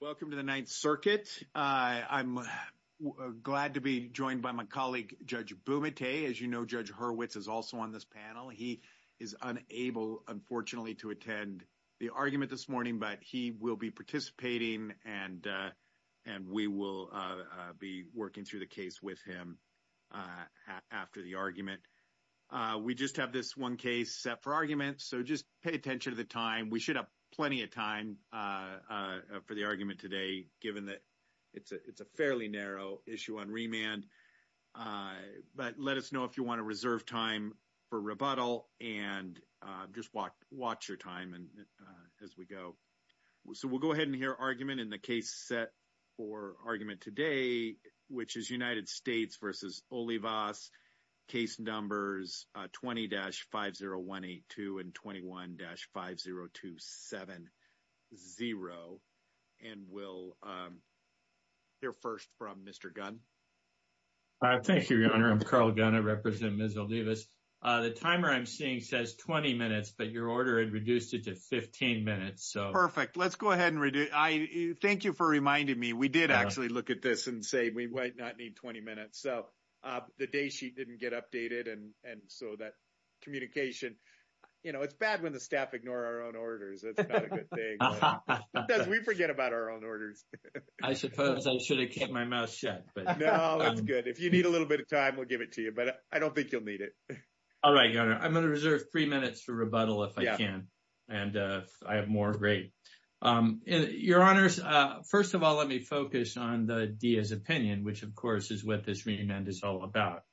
Welcome to the Ninth Circuit. I'm glad to be joined by my colleague, Judge Bumate. As you know, Judge Hurwitz is also on this panel. He is unable, unfortunately, to attend the argument this morning, but he will be participating, and we will be working through the case with him after the argument. We just have this one case set for argument, so just pay attention to the time. We should have plenty of time for the argument today, given that it's a fairly narrow issue on remand, but let us know if you want to reserve time for rebuttal and just watch your time as we go. So we'll go ahead and hear argument in the case set for argument today, which is United States v. Olivas. Case numbers 20-50182 and 21-50270, and we'll hear first from Mr. Gunn. Carl Gunn Thank you, Your Honor. I'm Carl Gunn. I represent Ms. Olivas. The timer I'm seeing says 20 minutes, but your order had reduced it to 15 minutes, so... Perfect. Let's go ahead and... Thank you for reminding me. We did actually look at this and say we might not need 20 minutes, so the day sheet didn't get updated, and so that communication... You know, it's bad when the staff ignore our own orders. That's not a good thing. We forget about our own orders. I suppose I should have kept my mouth shut, but... No, that's good. If you need a little bit of time, we'll give it to you, but I don't think you'll need it. All right, Your Honor. I'm going to reserve three minutes for rebuttal if I can, and if I have more, great. Your Honors, first of all, let me focus on the Diaz opinion, which of course is what this reamend is all about.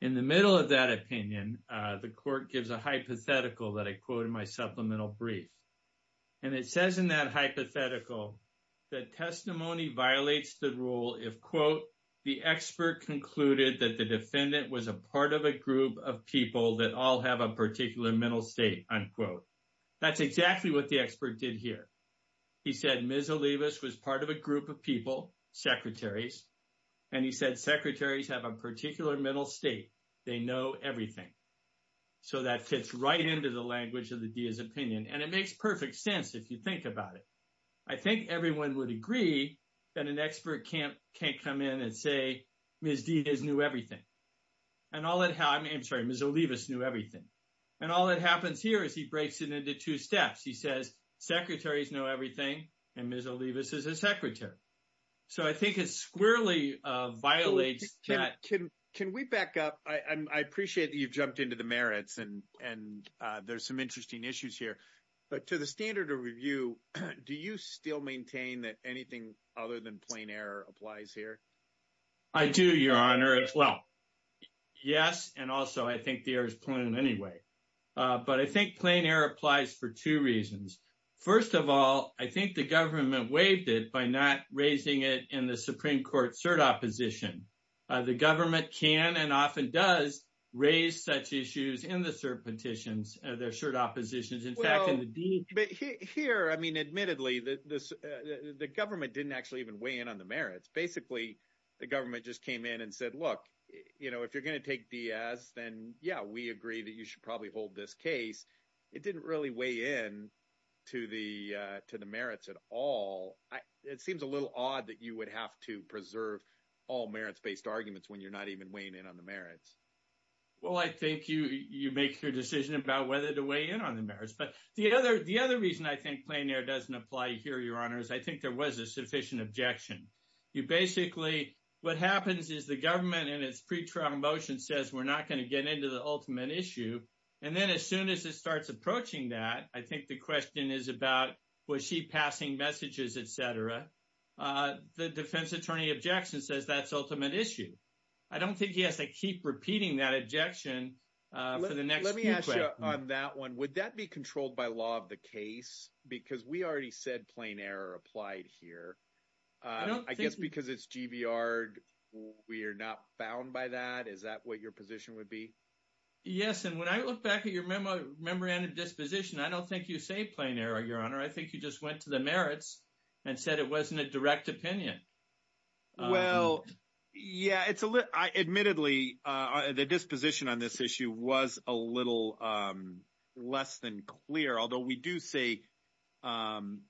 In the middle of that opinion, the court gives a hypothetical that I quote in my supplemental brief, and it says in that hypothetical that testimony violates the rule if, quote, the expert concluded that the defendant was part of a group of people that all have a particular mental state, unquote. That's exactly what the expert did here. He said Ms. Olivas was part of a group of people, secretaries, and he said secretaries have a particular mental state. They know everything, so that fits right into the language of the Diaz opinion, and it makes perfect sense if you think about it. I think everyone would agree that an expert can't come in and say Ms. Diaz knew everything. Ms. Olivas knew everything, and all that happens here is he breaks it into two steps. He says secretaries know everything, and Ms. Olivas is a secretary, so I think it squarely violates that. Can we back up? I appreciate that you've jumped into the merits, and there's some interesting issues here, but to the standard of review, do you still maintain that anything other than plain error applies here? I do, Your Honor, as well. Yes, and also I think the air is clean anyway, but I think plain error applies for two reasons. First of all, I think the government waived it by not raising it in the Supreme Court cert opposition. The government can and often does raise such issues in the cert petitions, their cert oppositions. In fact, in the deed— Well, here, I mean, admittedly, the government didn't actually even weigh in on the merits. Basically, the government just came in and said, look, if you're going to take Diaz, then, yeah, we agree that you should probably hold this case. It didn't really weigh in to the merits at all. It seems a little odd that you would have to preserve all merits-based arguments when you're not even weighing in on the merits. Well, I think you make your decision about whether to weigh in on the merits, but the other reason I think plain error doesn't apply here, Your Honor, is I think there was a sufficient objection. You basically—what happens is the government in its pre-trial motion says we're not going to get into the ultimate issue, and then as soon as it starts approaching that, I think the question is about was she passing messages, et cetera. The defense attorney objection says that's ultimate issue. I don't think he has to keep repeating that objection for the next— Let me ask you on that one. Would that be controlled by law of the case? Because we already said plain error applied here. I guess because it's GBR, we are not bound by that? Is that what your position would be? Yes, and when I look back at your memorandum of disposition, I don't think you say plain error, Your Honor. I think you just went to the merits and said it wasn't a direct opinion. Well, yeah, it's a little—admittedly, the disposition on this issue was a little less than clear, although we do say plain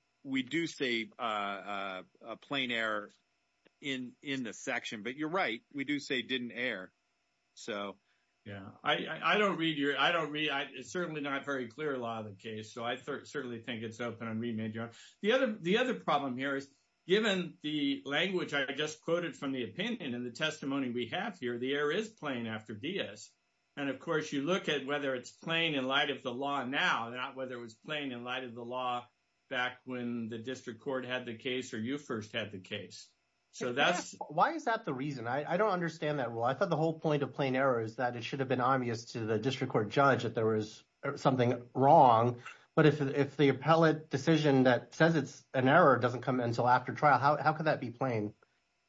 error in this section. But you're right. We do say didn't err. So, yeah. I don't read your—I don't read—it's certainly not very clear law of the language I just quoted from the opinion and the testimony we have here. The error is plain after Diaz. And, of course, you look at whether it's plain in light of the law now, not whether it was plain in light of the law back when the district court had the case or you first had the case. So that's— Why is that the reason? I don't understand that rule. I thought the whole point of plain error is that it should have been obvious to the district court judge that there was something wrong. But if the appellate decision that says it's an error doesn't come until after trial, how can that be plain?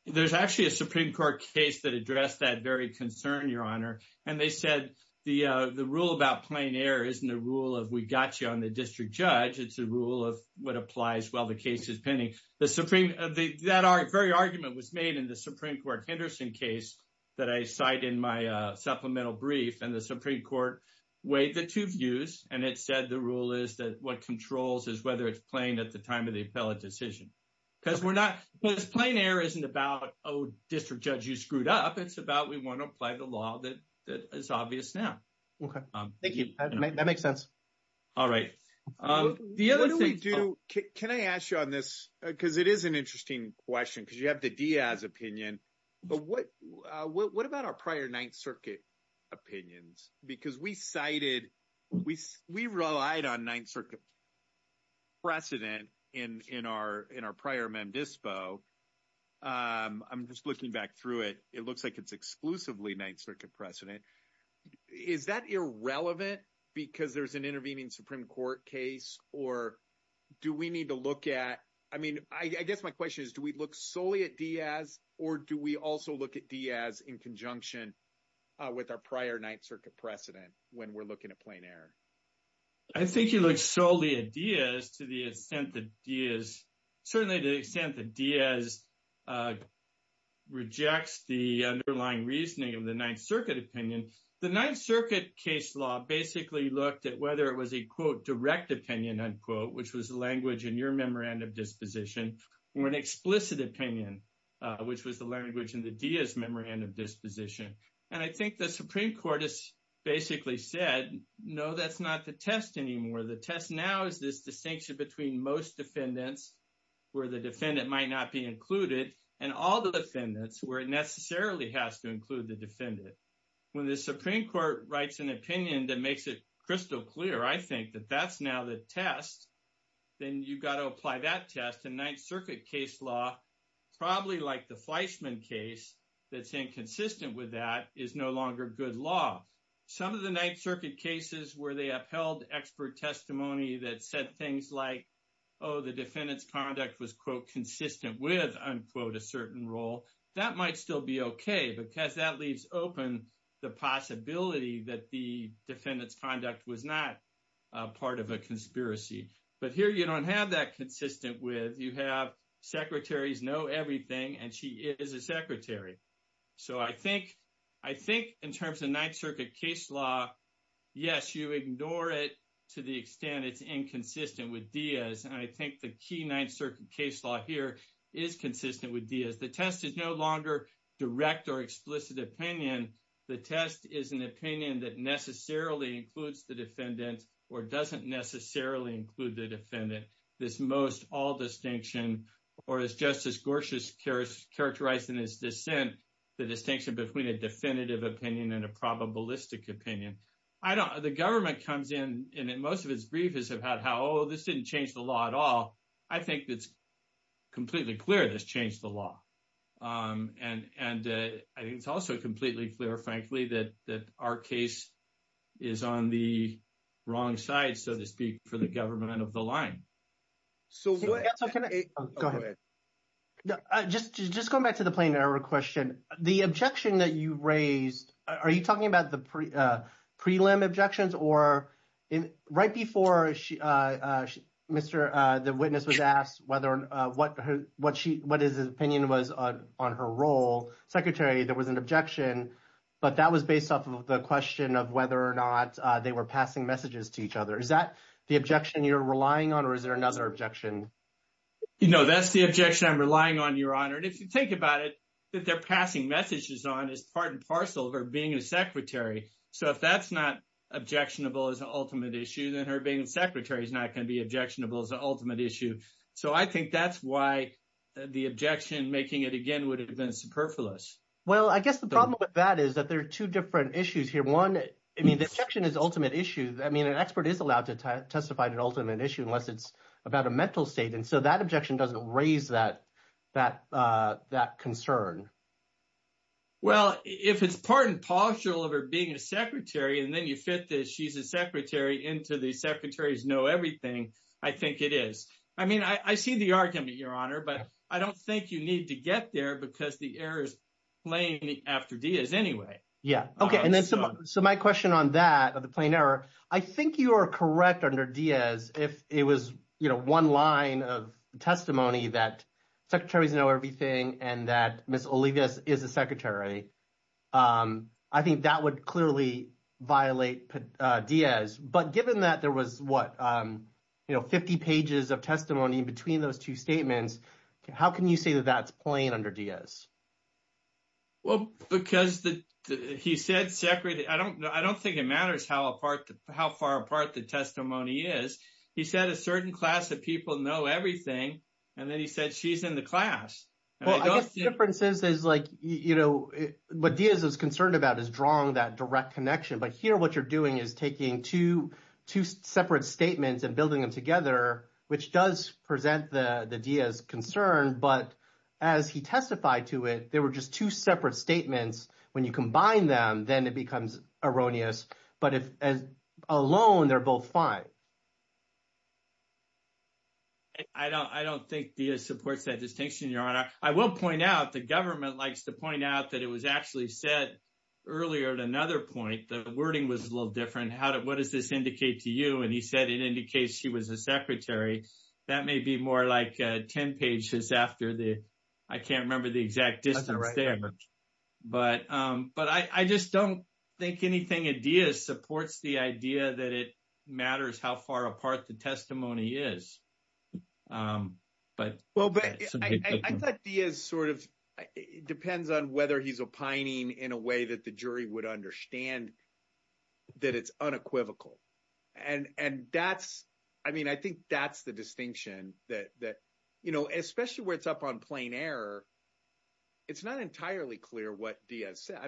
There's actually a Supreme Court case that addressed that very concern, Your Honor. And they said the rule about plain error isn't a rule of we got you on the district judge. It's a rule of what applies while the case is pending. The Supreme—that very argument was made in the Supreme Court Henderson case that I cite in my supplemental brief. And the Supreme Court weighed the two views. And it said the rule is that what controls is whether it's plain at time of the appellate decision. Because we're not—because plain error isn't about, oh, district judge, you screwed up. It's about we want to apply the law that is obvious now. Okay. Thank you. That makes sense. All right. The other thing— What do we do—can I ask you on this? Because it is an interesting question because you have the Diaz opinion. But what about our prior Ninth Circuit opinions? Because we cited—we relied on Ninth Circuit precedent in our prior mem dispo. I'm just looking back through it. It looks like it's exclusively Ninth Circuit precedent. Is that irrelevant because there's an intervening Supreme Court case? Or do we need to look at—I mean, I guess my question is, do we look solely at Diaz or do we also look at Diaz in conjunction with our prior Ninth Circuit precedent when we're in a plain error? I think you look solely at Diaz to the extent that Diaz—certainly to the extent that Diaz rejects the underlying reasoning of the Ninth Circuit opinion. The Ninth Circuit case law basically looked at whether it was a, quote, direct opinion, unquote, which was the language in your memorandum disposition, or an explicit opinion, which was the language in the Diaz memorandum. No, that's not the test anymore. The test now is this distinction between most defendants, where the defendant might not be included, and all the defendants, where it necessarily has to include the defendant. When the Supreme Court writes an opinion that makes it crystal clear, I think, that that's now the test, then you've got to apply that test. And Ninth Circuit case law, probably like the Fleischman case that's inconsistent with that, is no longer good law. Some of the Ninth Circuit cases where they upheld expert testimony that said things like, oh, the defendant's conduct was, quote, consistent with, unquote, a certain role, that might still be okay because that leaves open the possibility that the defendant's conduct was not part of a conspiracy. But here you don't have that consistent with. You have secretaries know everything, and she is a secretary. So I think in terms of Ninth Circuit case law, yes, you ignore it to the extent it's inconsistent with Diaz. And I think the key Ninth Circuit case law here is consistent with Diaz. The test is no longer direct or explicit opinion. The test is an opinion that necessarily includes the defendant or doesn't necessarily include the defendant. This most all distinction, or as Justice Gorsuch has characterized in his dissent, the distinction between a definitive opinion and a probabilistic opinion. The government comes in, and most of its brief is about how, oh, this didn't change the law at all. I think it's completely clear this changed the law. And I think it's also completely clear, frankly, that our case is on the wrong side, so to speak, for the government of the line. Go ahead. Just going back to the plain error question, the objection that you raised, are you talking about the prelim objections? Or right before the witness was asked what his opinion was on her role, Secretary, there was an objection, but that was based off of the question of whether or not they were passing messages to each other. Is that the objection you're relying on, or is there another objection? No, that's the objection I'm relying on, Your Honor. And if you think about it, what they're passing messages on is part and parcel of her being a secretary. So if that's not objectionable as an ultimate issue, then her being a secretary is not going to be objectionable as an ultimate issue. So I think that's why the objection, making it again, would have been superfluous. Well, I guess the problem with that is that there are two different issues here. One, I mean, the objection is ultimate issue. I mean, an expert is allowed to testify to an ultimate issue unless it's about a mental state. And so that objection doesn't raise that concern. Well, if it's part and parcel of her being a secretary, and then you fit the she's a secretary into the secretary's know everything, I think it is. I mean, I see the argument, Your Honor, but I don't think you need to get there because the error is plain after Diaz anyway. Yeah. Okay. So my question on that, on the plain error, I think you are correct under Diaz if it was one line of testimony that secretaries know everything and that Ms. Olivas is a secretary. I think that would clearly violate Diaz. But given that there was, what, 50 pages of testimony between those two statements, how can you say that that's plain under Diaz? Well, because he said secretary, I don't think it matters how far apart the testimony is. He said a certain class of people know everything. And then he said she's in the class. Well, I guess the difference is what Diaz is concerned about is drawing that direct connection. But here, what you're doing is taking two separate statements and building them together, which does present the Diaz concern. But as he testified to it, there were just two separate statements. When you combine them, then it becomes erroneous. But if alone, they're both fine. I don't think Diaz supports that distinction, Your Honor. I will point out the government likes to point out that it was actually said earlier at another point. The wording was a little different. What does this indicate to you? And he said it indicates she was a secretary. That may be more like 10 pages after the, I can't remember the exact distance there. But I just don't think anything in Diaz supports the idea that it matters how far apart the testimony is. I thought Diaz sort of depends on whether he's opining in a way that the jury would understand that it's unequivocal. And that's, I mean, I think that's the distinction that, you know, especially where it's up on plain error. It's not entirely clear what Diaz said. I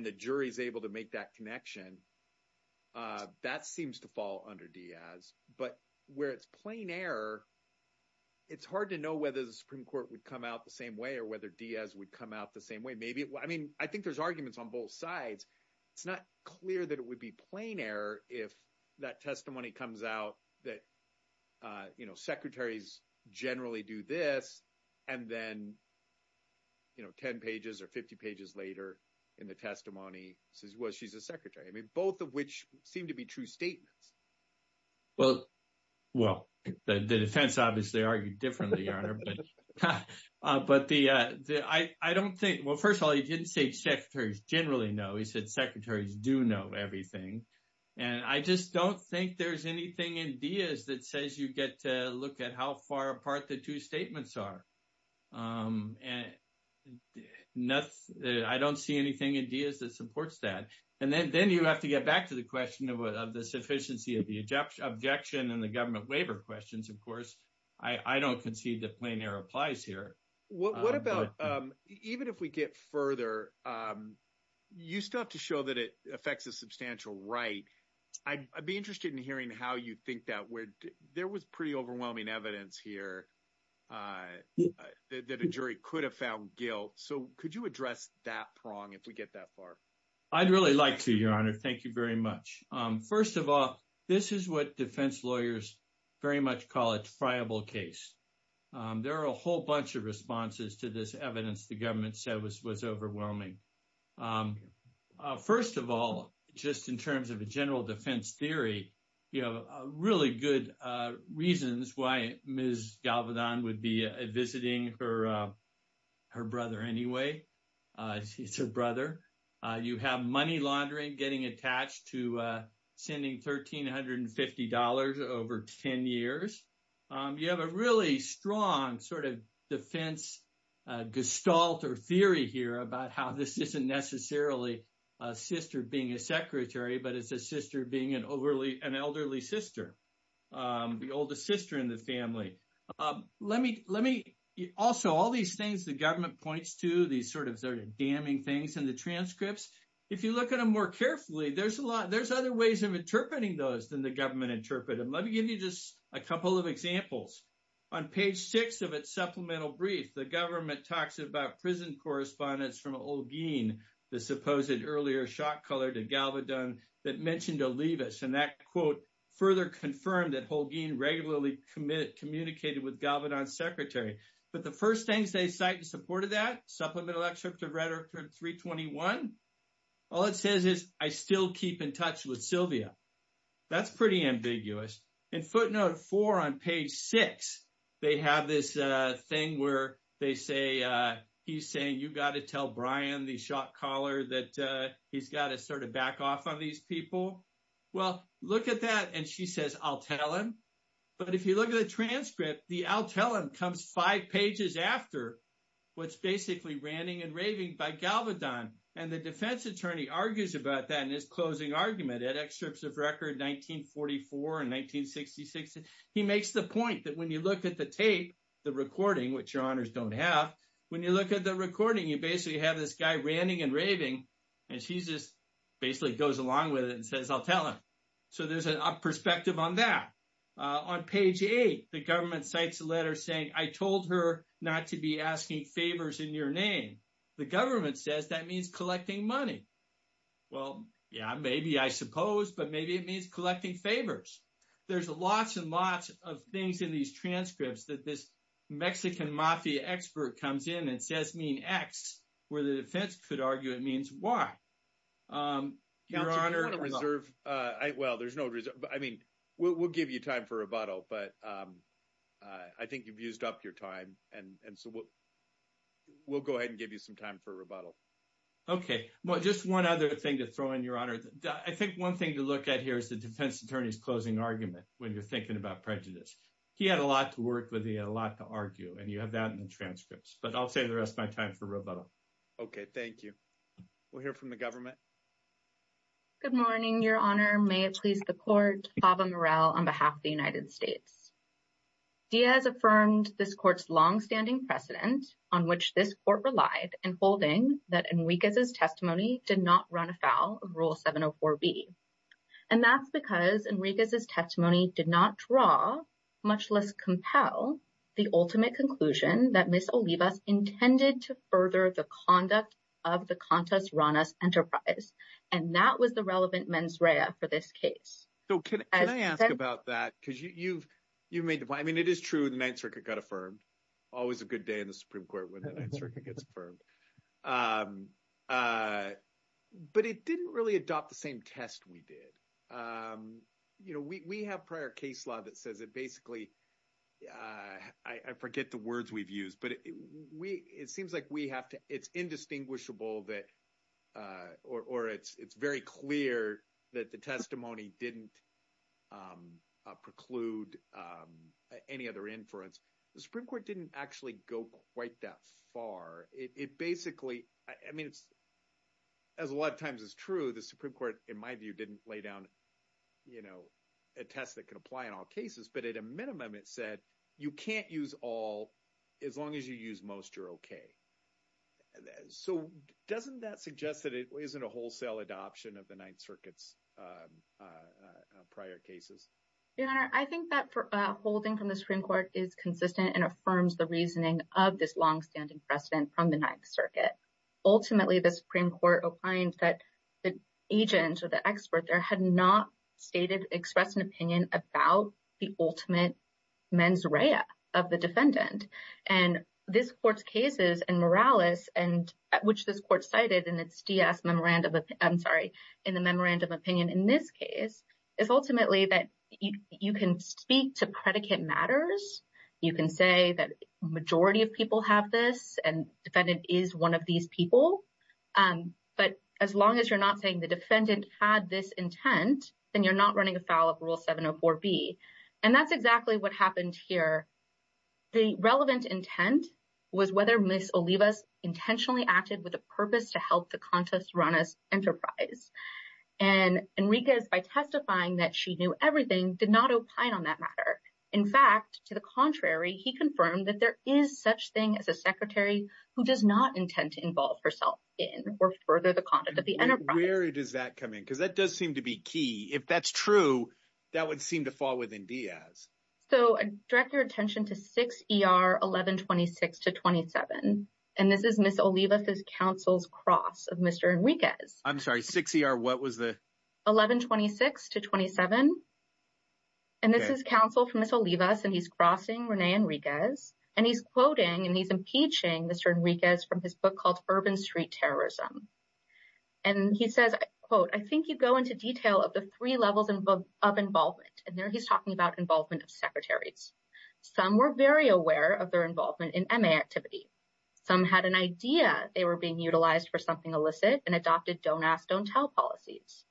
the jury is able to make that connection. That seems to fall under Diaz. But where it's plain error, it's hard to know whether the Supreme Court would come out the same way or whether Diaz would come out the same way. Maybe, I mean, I think there's arguments on both sides. It's not clear that it would be plain error if that testimony comes out that, you know, secretaries generally do this and then, you know, 10 pages or 50 pages later in the testimony says, well, she's a secretary. I mean, both of which seem to be true statements. Well, the defense obviously argued differently, Your Honor. But I don't think, well, first of all, he didn't say secretaries generally know. He said secretaries do know everything. And I just don't think there's anything in Diaz that says you get to look at how far apart the two statements are. And I don't see anything in Diaz that supports that. And then you have to get back to the question of the sufficiency of the objection and the government waiver questions. Of course, I don't concede that plain error applies here. What about, even if we get further, you still have to show that it affects a substantial right. I'd be interested in hearing how you think that would. There was pretty overwhelming evidence here that a jury could have found guilt. So could you address that prong if we get that far? I'd really like to, Your Honor. Thank you very much. First of all, this is what defense lawyers very much call a triable case. There are a whole bunch of responses to this evidence the government said was overwhelming. First of all, just in terms of a general defense theory, you have really good reasons why Ms. Galvedon would be visiting her brother anyway. It's her brother. You have money laundering getting attached to sending $1,350 over 10 years. You have a really strong sort of defense gestalt or theory here about how this isn't necessarily a sister being a secretary, but it's a sister being an elderly sister, the oldest sister in the family. Also, all these things the government points to, these sort of damning things in the transcripts, if you look at them more carefully, there's other ways of interpreting those than the government interpreted them. Let me give you just a couple of examples. On page six of its supplemental brief, the government talks about prison correspondence from Holguin, the supposed earlier shot caller to Galvedon that mentioned Olivas, and that quote further confirmed that Holguin regularly communicated with Galvedon's secretary. But the first things they cite in support of that, supplemental excerpt of Rhetoric 321, all it says is, I still keep in touch with Sylvia. That's pretty ambiguous. In footnote four on page six, they have this thing where he's saying, you got to tell Brian, the shot caller, that he's got to sort of back off on these people. Well, look at that, and she says, I'll tell him. But if you look at the transcript, the I'll tell him comes five pages after what's basically ranting and raving by Galvedon, and the defense attorney argues about that in his closing argument at excerpts of record 1944 and 1966. He makes the point that when you look at the tape, the recording, which your honors don't have, when you look at the recording, you basically have this guy ranting and raving, and she just basically goes along with it and says, I'll tell him. So there's a perspective on that. On page eight, the government cites a letter saying, I told her not to be asking favors in your name. The government says that means collecting money. Well, yeah, maybe, I suppose, but maybe it means collecting favors. There's lots and lots of things in these transcripts that this Mexican mafia expert comes in and says mean X, where the defense could argue it means Y. Your honor, reserve. Well, there's no reserve. I mean, we'll give you time for rebuttal, but I think you've used up your time, and so we'll go ahead and give you some time for rebuttal. Okay, well, just one other thing to throw in, your honor. I think one thing to look at here is the defense attorney's closing argument when you're thinking about prejudice. He had a lot to work with. He had a lot to argue, and you have that in the transcripts, but I'll save the rest of my time for rebuttal. Okay, thank you. We'll hear from the government. Good morning, your honor. May it please the court, Chava Murrell on behalf of the United States. Diaz affirmed this court's long-standing precedent on which this court relied in holding that Enriquez's testimony did not run afoul of Rule 704B, and that's because Enriquez's testimony did not draw, much less compel, the ultimate conclusion that Ms. Olivas intended to further the conduct of the enterprise, and that was the relevant mens rea for this case. So, can I ask about that? Because you've made the point. I mean, it is true the Ninth Circuit got affirmed. Always a good day in the Supreme Court when the Ninth Circuit gets affirmed, but it didn't really adopt the same test we did. We have prior case law that says it basically, I forget the words we've used, but it seems like we have to, it's indistinguishable that, or it's very clear that the testimony didn't preclude any other inference. The Supreme Court didn't actually go quite that far. It basically, I mean, as a lot of times is true, the Supreme Court, in one of them, it said, you can't use all as long as you use most, you're okay. So, doesn't that suggest that it isn't a wholesale adoption of the Ninth Circuit's prior cases? Your Honor, I think that holding from the Supreme Court is consistent and affirms the reasoning of this longstanding precedent from the Ninth Circuit. Ultimately, the Supreme Court opined that the agent or the expert there had not stated, expressed an opinion about the ultimate mens rea of the defendant. And this Court's cases and Morales, which this Court cited in its DS memorandum, I'm sorry, in the memorandum opinion in this case, is ultimately that you can speak to predicate matters. You can say that majority of people have this and defendant is one of these people. But as long as you're not saying the defendant had this intent, then you're not running afoul of Rule 704B. And that's exactly what happened here. The relevant intent was whether Ms. Olivas intentionally acted with a purpose to help the contest run as enterprise. And Enriquez, by testifying that she knew everything, did not opine on that matter. In fact, to the contrary, he confirmed that there is such thing as a secretary who does not intend to involve herself in or further the conduct of the enterprise. Where does that come in? Because that does seem to be key. If that's true, that would seem to fall within Diaz. So direct your attention to 6ER 1126-27. And this is Ms. Olivas' counsel's cross of Mr. Enriquez. I'm sorry, 6ER what was the? 1126-27. And this is counsel from Ms. Olivas and he's crossing Rene Enriquez. And he's quoting and he's impeaching Mr. Enriquez from his book called Urban Street Terrorism. And he says, quote, I think you go into detail of the three levels of involvement. And there he's talking about involvement of secretaries. Some were very aware of their involvement in MA activity. Some had an idea they were being utilized for something illicit and adopted don't ask, don't tell policies.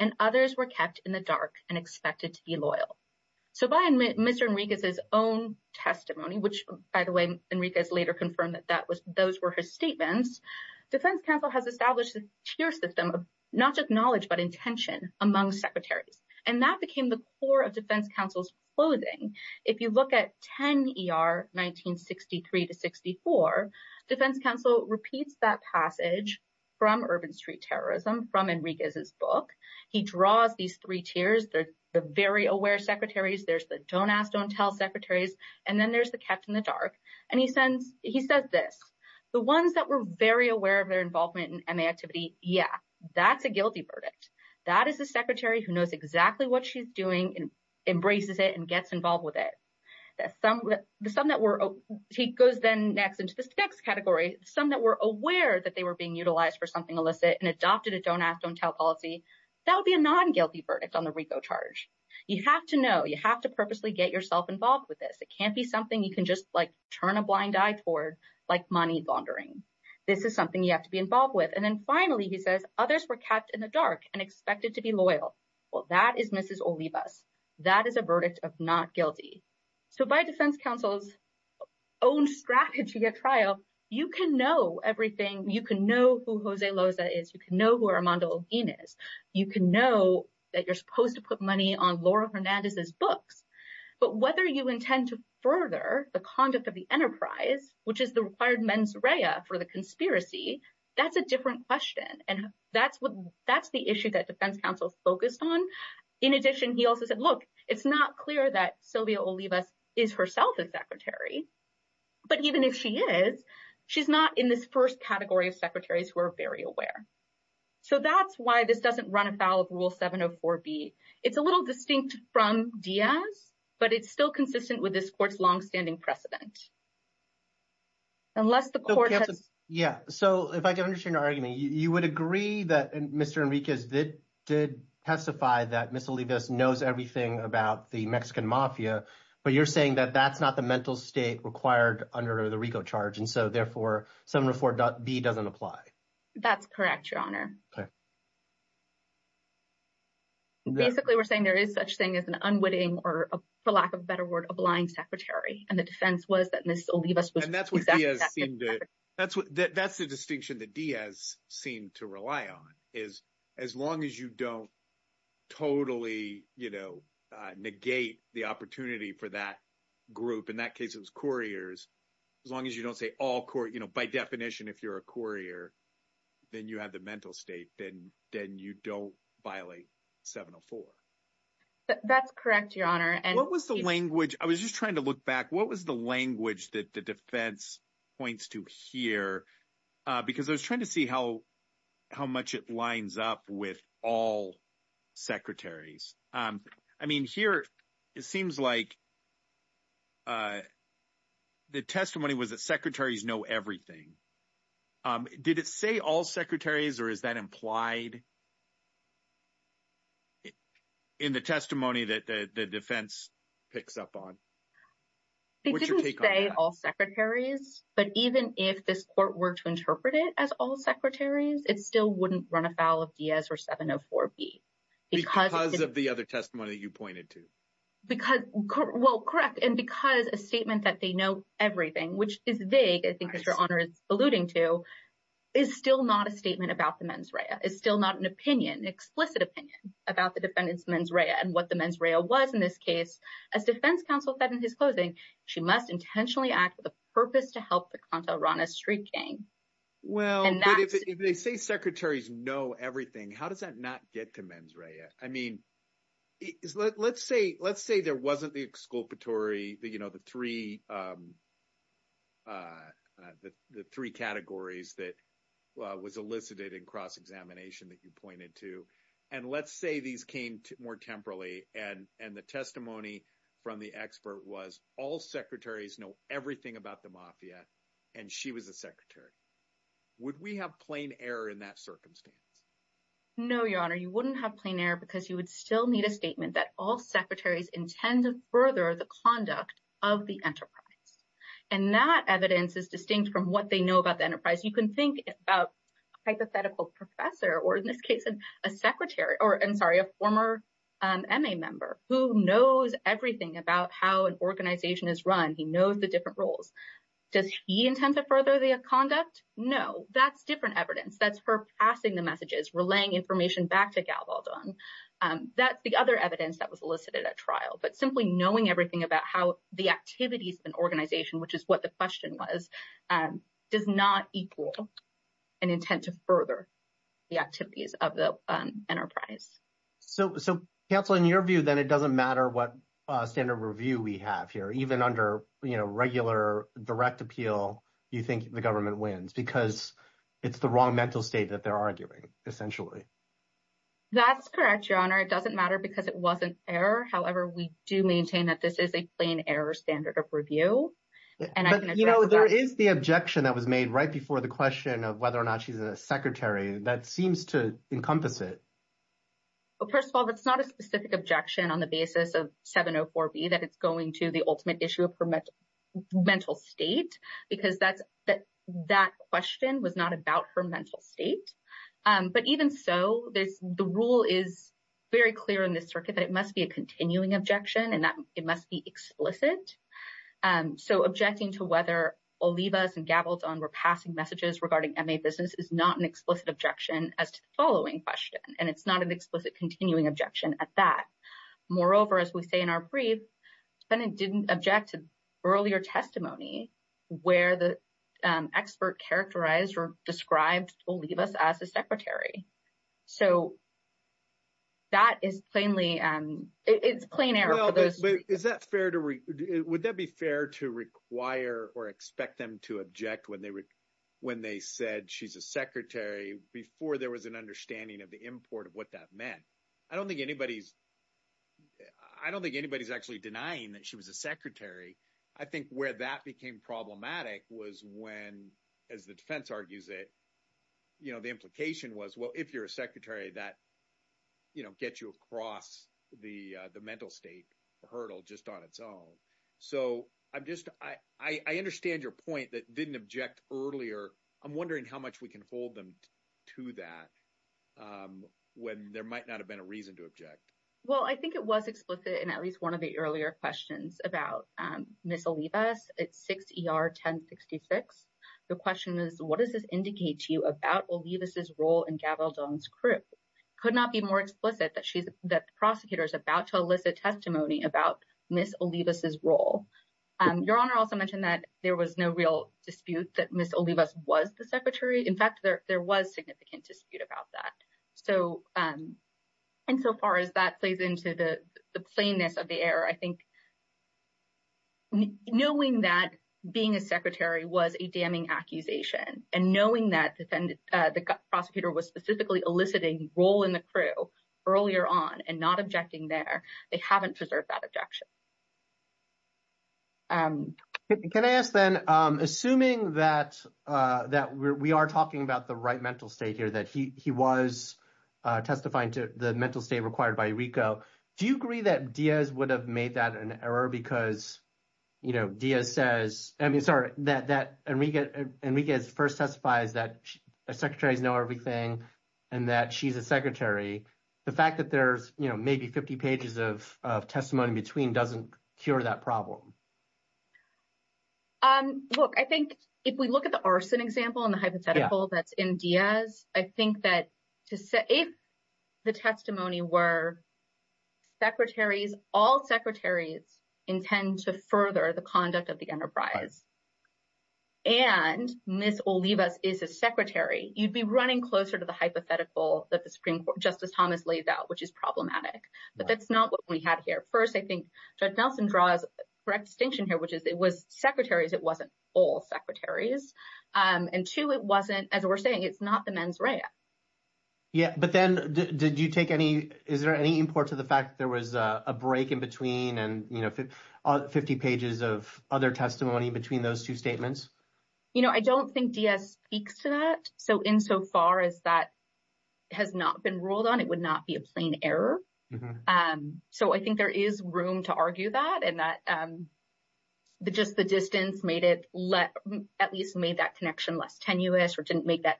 And others were kept in the dark and expected to be loyal. So by Mr. Enriquez's own testimony, which by the way, Enriquez later confirmed that those were his statements, defense counsel has established a tier system of not just knowledge, but intention among secretaries. And that became the core of defense counsel's clothing. If you look at 10ER 1963-64, defense counsel repeats that passage from Urban Street Terrorism from Enriquez's book. He draws these three tiers, the very aware secretaries, there's the don't ask, don't tell secretaries, and then there's the kept in the dark. And he says this, the ones that were very aware of their involvement in MA activity, yeah, that's a guilty verdict. That is a secretary who knows exactly what she's doing and embraces it and gets involved with it. He goes then next into this next category, some that were aware that they were being utilized for something illicit and adopted a don't ask, don't tell policy. That would be a non-guilty verdict on the RICO charge. You have to know, you have to purposely get yourself involved with this. It can't be something you can just like turn a blind eye toward, like money laundering. This is something you have to be involved with. And then finally, he says, others were kept in the dark and expected to be loyal. Well, that is Mrs. Olivas. That is a verdict of not guilty. So by defense counsel's own strategy at trial, you can know everything. You can know who Jose Loza is. You can know who Armando Login is. You can know that you're supposed to put money on Laura Hernandez's books. But whether you intend to further the conduct of the enterprise, which is the required mens rea for the conspiracy, that's a different question. And that's what, that's the issue that defense counsel's focused on. In addition, he also said, look, it's not clear that Sylvia Olivas is herself a secretary, but even if she is, she's not in this first category of secretaries who are very aware. So that's why this doesn't run afoul of rule 704B. It's a little distinct from Diaz, but it's still consistent with this court's longstanding precedent. Unless the court has... Yeah. So if I can understand your argument, you would agree that Mr. Enriquez did testify that Mrs. Olivas knows everything about the Mexican mafia, but you're saying that that's not the mental state required under the RICO charge. And so therefore, 704B doesn't apply. That's correct, Your Honor. Basically, we're saying there is such thing as an unwitting or, for lack of a better word, a blind secretary. And the defense was that Mrs. Olivas was... And that's what Diaz seemed to... That's the distinction that Diaz seemed to rely on, is as long as you don't totally negate the opportunity for that group, in that case, it was couriers, as long as you don't say all... By definition, if you're a courier, then you have the mental state, then you don't violate 704. That's correct, Your Honor. And... What was the language... I was just trying to look back. What was the language that the defense points to here? Because I was trying to see how much it lines up with all secretaries. I mean, here, it seems like the testimony was that secretaries know everything. Did it say all secretaries, or is that implied in the testimony that the defense picks up on? It didn't say all secretaries, but even if this court were to interpret it as all secretaries, it still wouldn't run afoul of Diaz or 704B, because... Because of the other testimony that you pointed to. Well, correct. And because a statement that they know everything, which is vague, I think as Your Honor is alluding to, is still not a statement about the mens rea. It's still not an opinion, an explicit opinion, about the defendant's mens rea and what the mens rea was in this case. As defense counsel said in his closing, she must intentionally act with a purpose to help the Conta Rana street gang. Well, but if they say secretaries know everything, how does that not get to mens rea? I mean, let's say there wasn't the exculpatory, the three categories that was elicited in cross-examination that you pointed to, and let's say these came more temporally, and the testimony from the expert was all secretaries know everything about the mafia, and she was a secretary. Would we have plain error in that circumstance? No, Your Honor. You wouldn't have plain error because you would still need a statement that all secretaries intend to further the conduct of the enterprise. And that evidence is distinct from what they know about the enterprise. You can think about a hypothetical professor, or in this case, a secretary, or I'm sorry, a former MA member who knows everything about how an organization is run. He knows the different roles. Does he intend to further the conduct? No. That's different evidence. That's her passing the messages, relaying information back to Galvaldon. That's the other evidence that was elicited at trial. But simply knowing everything about how the activities of an organization, which is what the question was, does not equal an intent to further the activities of the enterprise. So, counsel, in your view, then it doesn't matter what standard review we have here. Even under regular direct appeal, you think the government wins because it's the wrong mental state that they're arguing, essentially. That's correct, Your Honor. It doesn't matter because it wasn't error. However, we do maintain that this is a plain error standard of review. But there is the objection that was made right before the question of whether or not she's a secretary. That seems to encompass it. First of all, that's not a specific objection on the basis of 704B that it's going to the issue of her mental state because that question was not about her mental state. But even so, the rule is very clear in this circuit that it must be a continuing objection and that it must be explicit. So, objecting to whether Olivas and Galvaldon were passing messages regarding MA business is not an explicit objection as to the following question, and it's not an explicit continuing objection at that. Moreover, as we say in our brief, the defendant didn't object to earlier testimony where the expert characterized or described Olivas as a secretary. So, that is plainly, it's plain error. Is that fair to, would that be fair to require or expect them to object when they said she's a secretary before there was an understanding of the import of what that meant? I don't think anybody's, I don't think anybody's actually denying that she was a secretary. I think where that became problematic was when, as the defense argues it, you know, the implication was, well, if you're a secretary, that, you know, gets you across the mental state hurdle just on its own. So, I'm just, I understand your point that didn't object earlier. I'm wondering how much we can hold them to that when there might not have been a reason to object. Well, I think it was explicit in at least one of the earlier questions about Miss Olivas at 6 ER 1066. The question is, what does this indicate to you about Olivas' role in Galvaldon's crew? Could not be more explicit that she's, that the prosecutor is about to elicit testimony about Miss Olivas' role. Your Honor also mentioned that there was no real dispute that Miss Olivas was the secretary. In fact, there was significant dispute about that. So, and so far as that plays into the plainness of the error, I think knowing that being a secretary was a damning accusation and knowing that the prosecutor was specifically eliciting role in the crew earlier on and not they haven't preserved that objection. Can I ask then, assuming that we are talking about the right mental state here, that he was testifying to the mental state required by Enriquez, do you agree that Diaz would have made that an error because, you know, Diaz says, I mean, sorry, that Enriquez first testifies that secretaries know everything and that she's a secretary. The fact that there's, you know, maybe 50 pages of testimony in between doesn't cure that problem. Um, look, I think if we look at the arson example and the hypothetical that's in Diaz, I think that if the testimony were secretaries, all secretaries intend to further the conduct of the enterprise and Miss Olivas is a secretary, you'd be running closer to the hypothetical that the Supreme Court, Justice Thomas laid out, which is problematic. But that's not what we had here. First, I think Judge Nelson draws correct distinction here, which is it was secretaries. It wasn't all secretaries. Um, and two, it wasn't, as we're saying, it's not the mens rea. Yeah. But then did you take any, is there any import to the fact that there was a break in between and, you know, 50 pages of other testimony between those two statements? You know, I don't think Diaz speaks to that. So insofar as that has not been ruled on, it would not be a plain error. Um, so I think there is room to argue that and that, um, just the distance made it let, at least made that connection less tenuous or didn't make that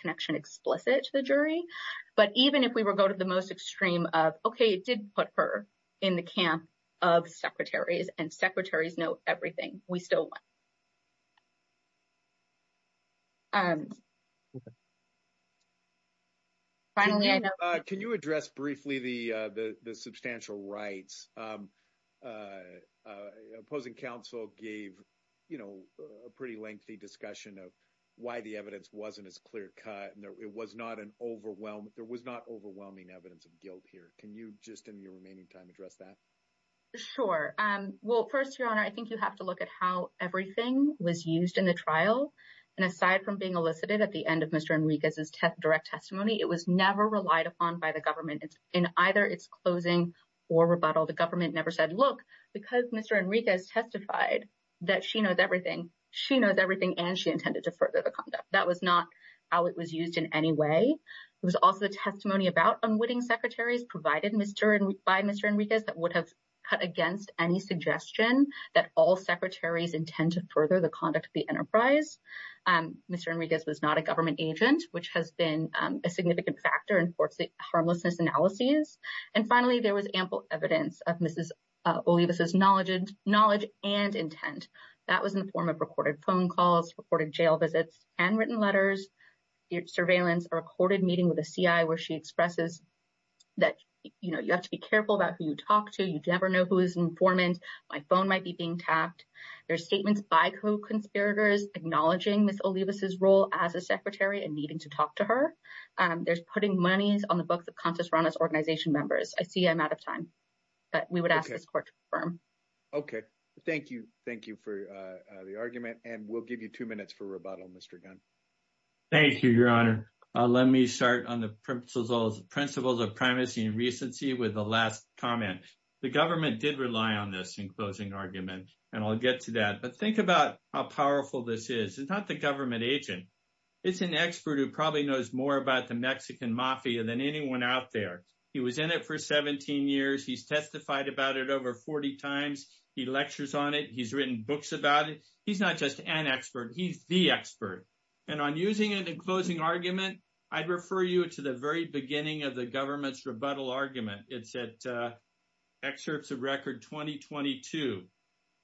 connection explicit to the jury. But even if we were going to the most extreme of, okay, it did put her in the camp of secretaries and secretaries know everything, we still won. Um, finally, can you address briefly the, uh, the, the substantial rights, um, uh, uh, opposing counsel gave, you know, a pretty lengthy discussion of why the evidence wasn't as clear cut. And there, it was not an overwhelm. There was not overwhelming evidence of guilt here. Can you just in your remaining time address that? Sure. Um, well, first your honor, I think you have to look at how everything was used in the trial. And aside from being elicited at the end of Mr. Enriquez's direct testimony, it was never relied upon by the government in either its closing or rebuttal. The government never said, look, because Mr. Enriquez testified that she knows everything, she knows everything. And she intended to further the conduct. That was not how it was used in any way. It was also the testimony about unwitting secretaries provided by Mr. Enriquez that would have cut against any suggestion that all secretaries intend to further the conduct of the enterprise. Um, Mr. Enriquez was not a government agent, which has been, um, a significant factor in court's harmlessness analyses. And finally, there was ample evidence of Mrs. Olivas' knowledge and intent. That was in the form of recorded phone calls, recorded jail visits, handwritten letters, surveillance, a recorded meeting with a CI where she expresses that, you know, you have to be careful about who you talk to. You never know who is informant. My phone might be being tapped. There's statements by co-conspirators acknowledging Mrs. Olivas' role as a secretary and needing to talk to her. Um, there's putting monies on the books of Consus Rana's organization members. I see I'm out of time, but we would ask this court to confirm. Okay. Thank you. Thank you for the argument. And we'll give you two minutes for rebuttal, Mr. Gunn. Thank you, Your Honor. Let me start on the principles of primacy and recency with the last comment. The government did rely on this in closing argument, and I'll get to that. But think about how powerful this is. It's not the government agent. It's an expert who probably knows more about the Mexican mafia than anyone out there. He was in it for 17 years. He's testified about it over 40 times. He lectures on it. He's written books about it. He's not just an expert. He's the expert. And on using it in closing argument, I'd refer you to the very beginning of the government's rebuttal argument. It's at Excerpts of Record 2022.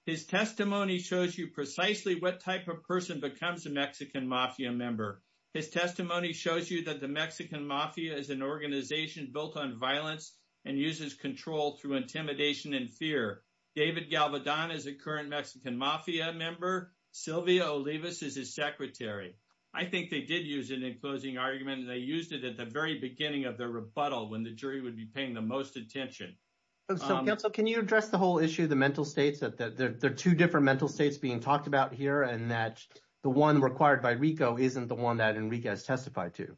His testimony shows you precisely what type of person becomes a Mexican mafia member. His testimony shows you that the Mexican mafia is an organization built on violence and uses control through intimidation and fear. David Galvedon is a current Mexican mafia member. Silvia Olivas is his secretary. I think they did use it in closing argument, and they used it at the very beginning of their rebuttal, when the jury would be paying the most attention. So, counsel, can you address the whole issue of the mental states, that there are two different mental states being talked about here, and that the one required by RICO isn't the one that Enrique has testified to?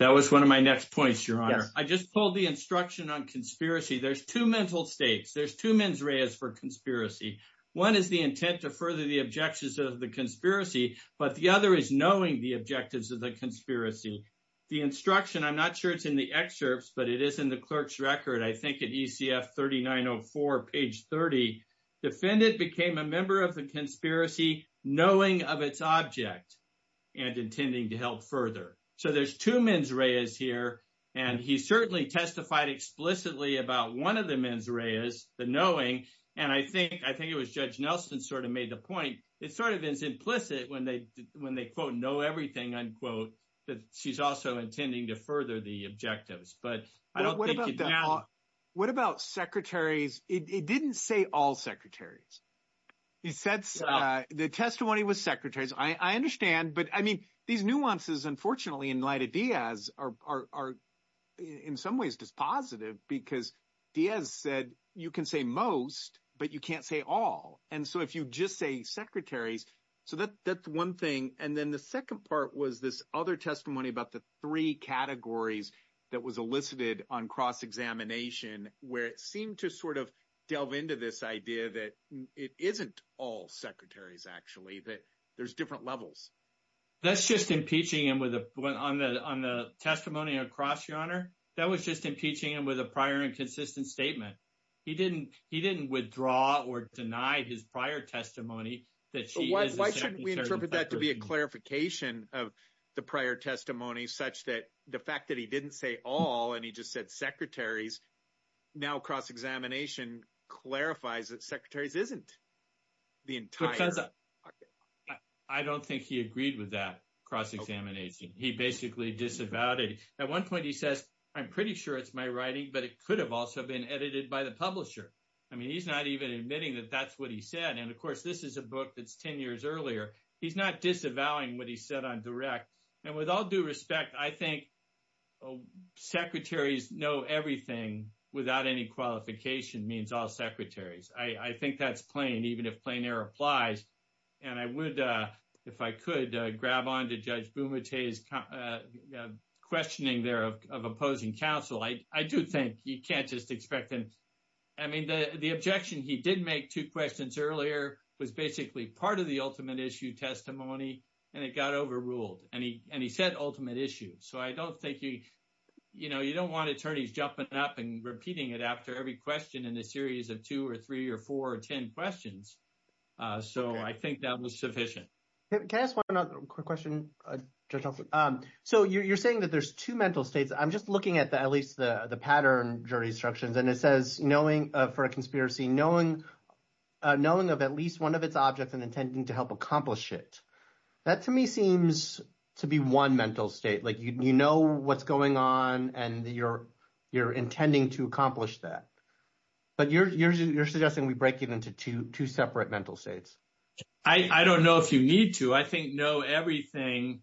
That was one of my next points, Your Honor. I just pulled the instruction on conspiracy. There's two mental states. There's two mens reas for conspiracy. One is the intent to further the objections of the conspiracy, but the other is knowing the objectives of the conspiracy. The instruction, I'm not sure it's in the excerpts, but it is in the clerk's record, I think at ECF 3904, page 30. Defendant became a member of the conspiracy knowing of its object and intending to help further. So, there's two mens reas here, and he certainly testified explicitly about one of the mens reas, the knowing, and I think it was Judge Nelson sort of made the point. It sort of is implicit when they, quote, know everything, unquote, that she's also intending to further the objectives, but I don't think it's now. What about secretaries? It didn't say all secretaries. He said the testimony was secretaries. I understand, but I mean, these nuances, unfortunately, in light of Diaz are in some ways just positive because Diaz said you can say most, but you can't say all, and so if you just say secretaries, so that's one thing, and then the second part was this other testimony about the three categories that was elicited on cross examination where it seemed to sort of delve into this idea that it isn't all secretaries, actually, that there's different levels. That's just impeaching him on the testimony on cross, Your Honor. That was just impeaching him with a prior and consistent statement. He didn't withdraw or deny his prior testimony that she is a secretary. Why shouldn't we interpret that to be a clarification of the prior testimony such that the fact that he didn't say all and he just said secretaries now cross examination clarifies that secretaries isn't the entire. I don't think he agreed with that cross examination. He basically disavowed it. At one point, he says, I'm pretty sure it's my writing, but it could have also been edited by the publisher. I mean, he's not even admitting that that's what he said, and of course, this is a book that's 10 years earlier. He's not disavowing what he said on direct, and with all due respect, I think secretaries know everything without any qualification means secretaries. I think that's plain, even if plain air applies, and I would, if I could, grab on to Judge Bumate's questioning there of opposing counsel. I do think you can't just expect them. I mean, the objection he did make two questions earlier was basically part of the ultimate issue testimony, and it got overruled, and he said ultimate issue. So I don't think you don't want attorneys jumping up and repeating it after every question in a series of two or three or four or 10 questions. So I think that was sufficient. Can I ask one other quick question? So you're saying that there's two mental states. I'm just looking at at least the pattern jury instructions, and it says, for a conspiracy, knowing of at least one of its objects and intending to help accomplish it. That to me seems to be one mental state. You know what's going on, and you're intending to accomplish that. But you're suggesting we break it into two separate mental states. I don't know if you need to. I think know everything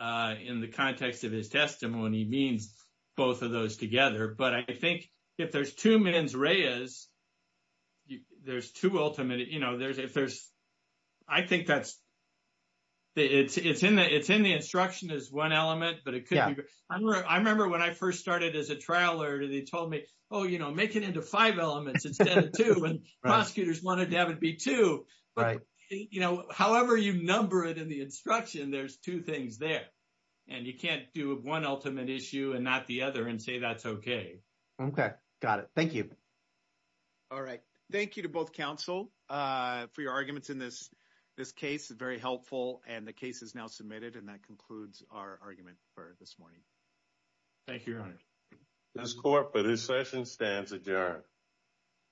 in the context of his testimony means both of those together. But I think if there's two mens reas, there's two ultimate, you know, there's, if there's, I think that's, it's in the instruction is one element, but it could be. I remember when I first started as a trial lawyer, they told me, oh, you know, make it into five elements instead of two, and prosecutors wanted to have it be two. You know, however you number it in the instruction, there's two things there, and you can't do one ultimate issue and not the other and say that's okay. Okay. Got it. Thank you. All right. Thank you to both counsel for your arguments in this case. Very helpful. And the case is now submitted, and that concludes our argument for this morning. Thank you, your honor. This court for this session stands adjourned.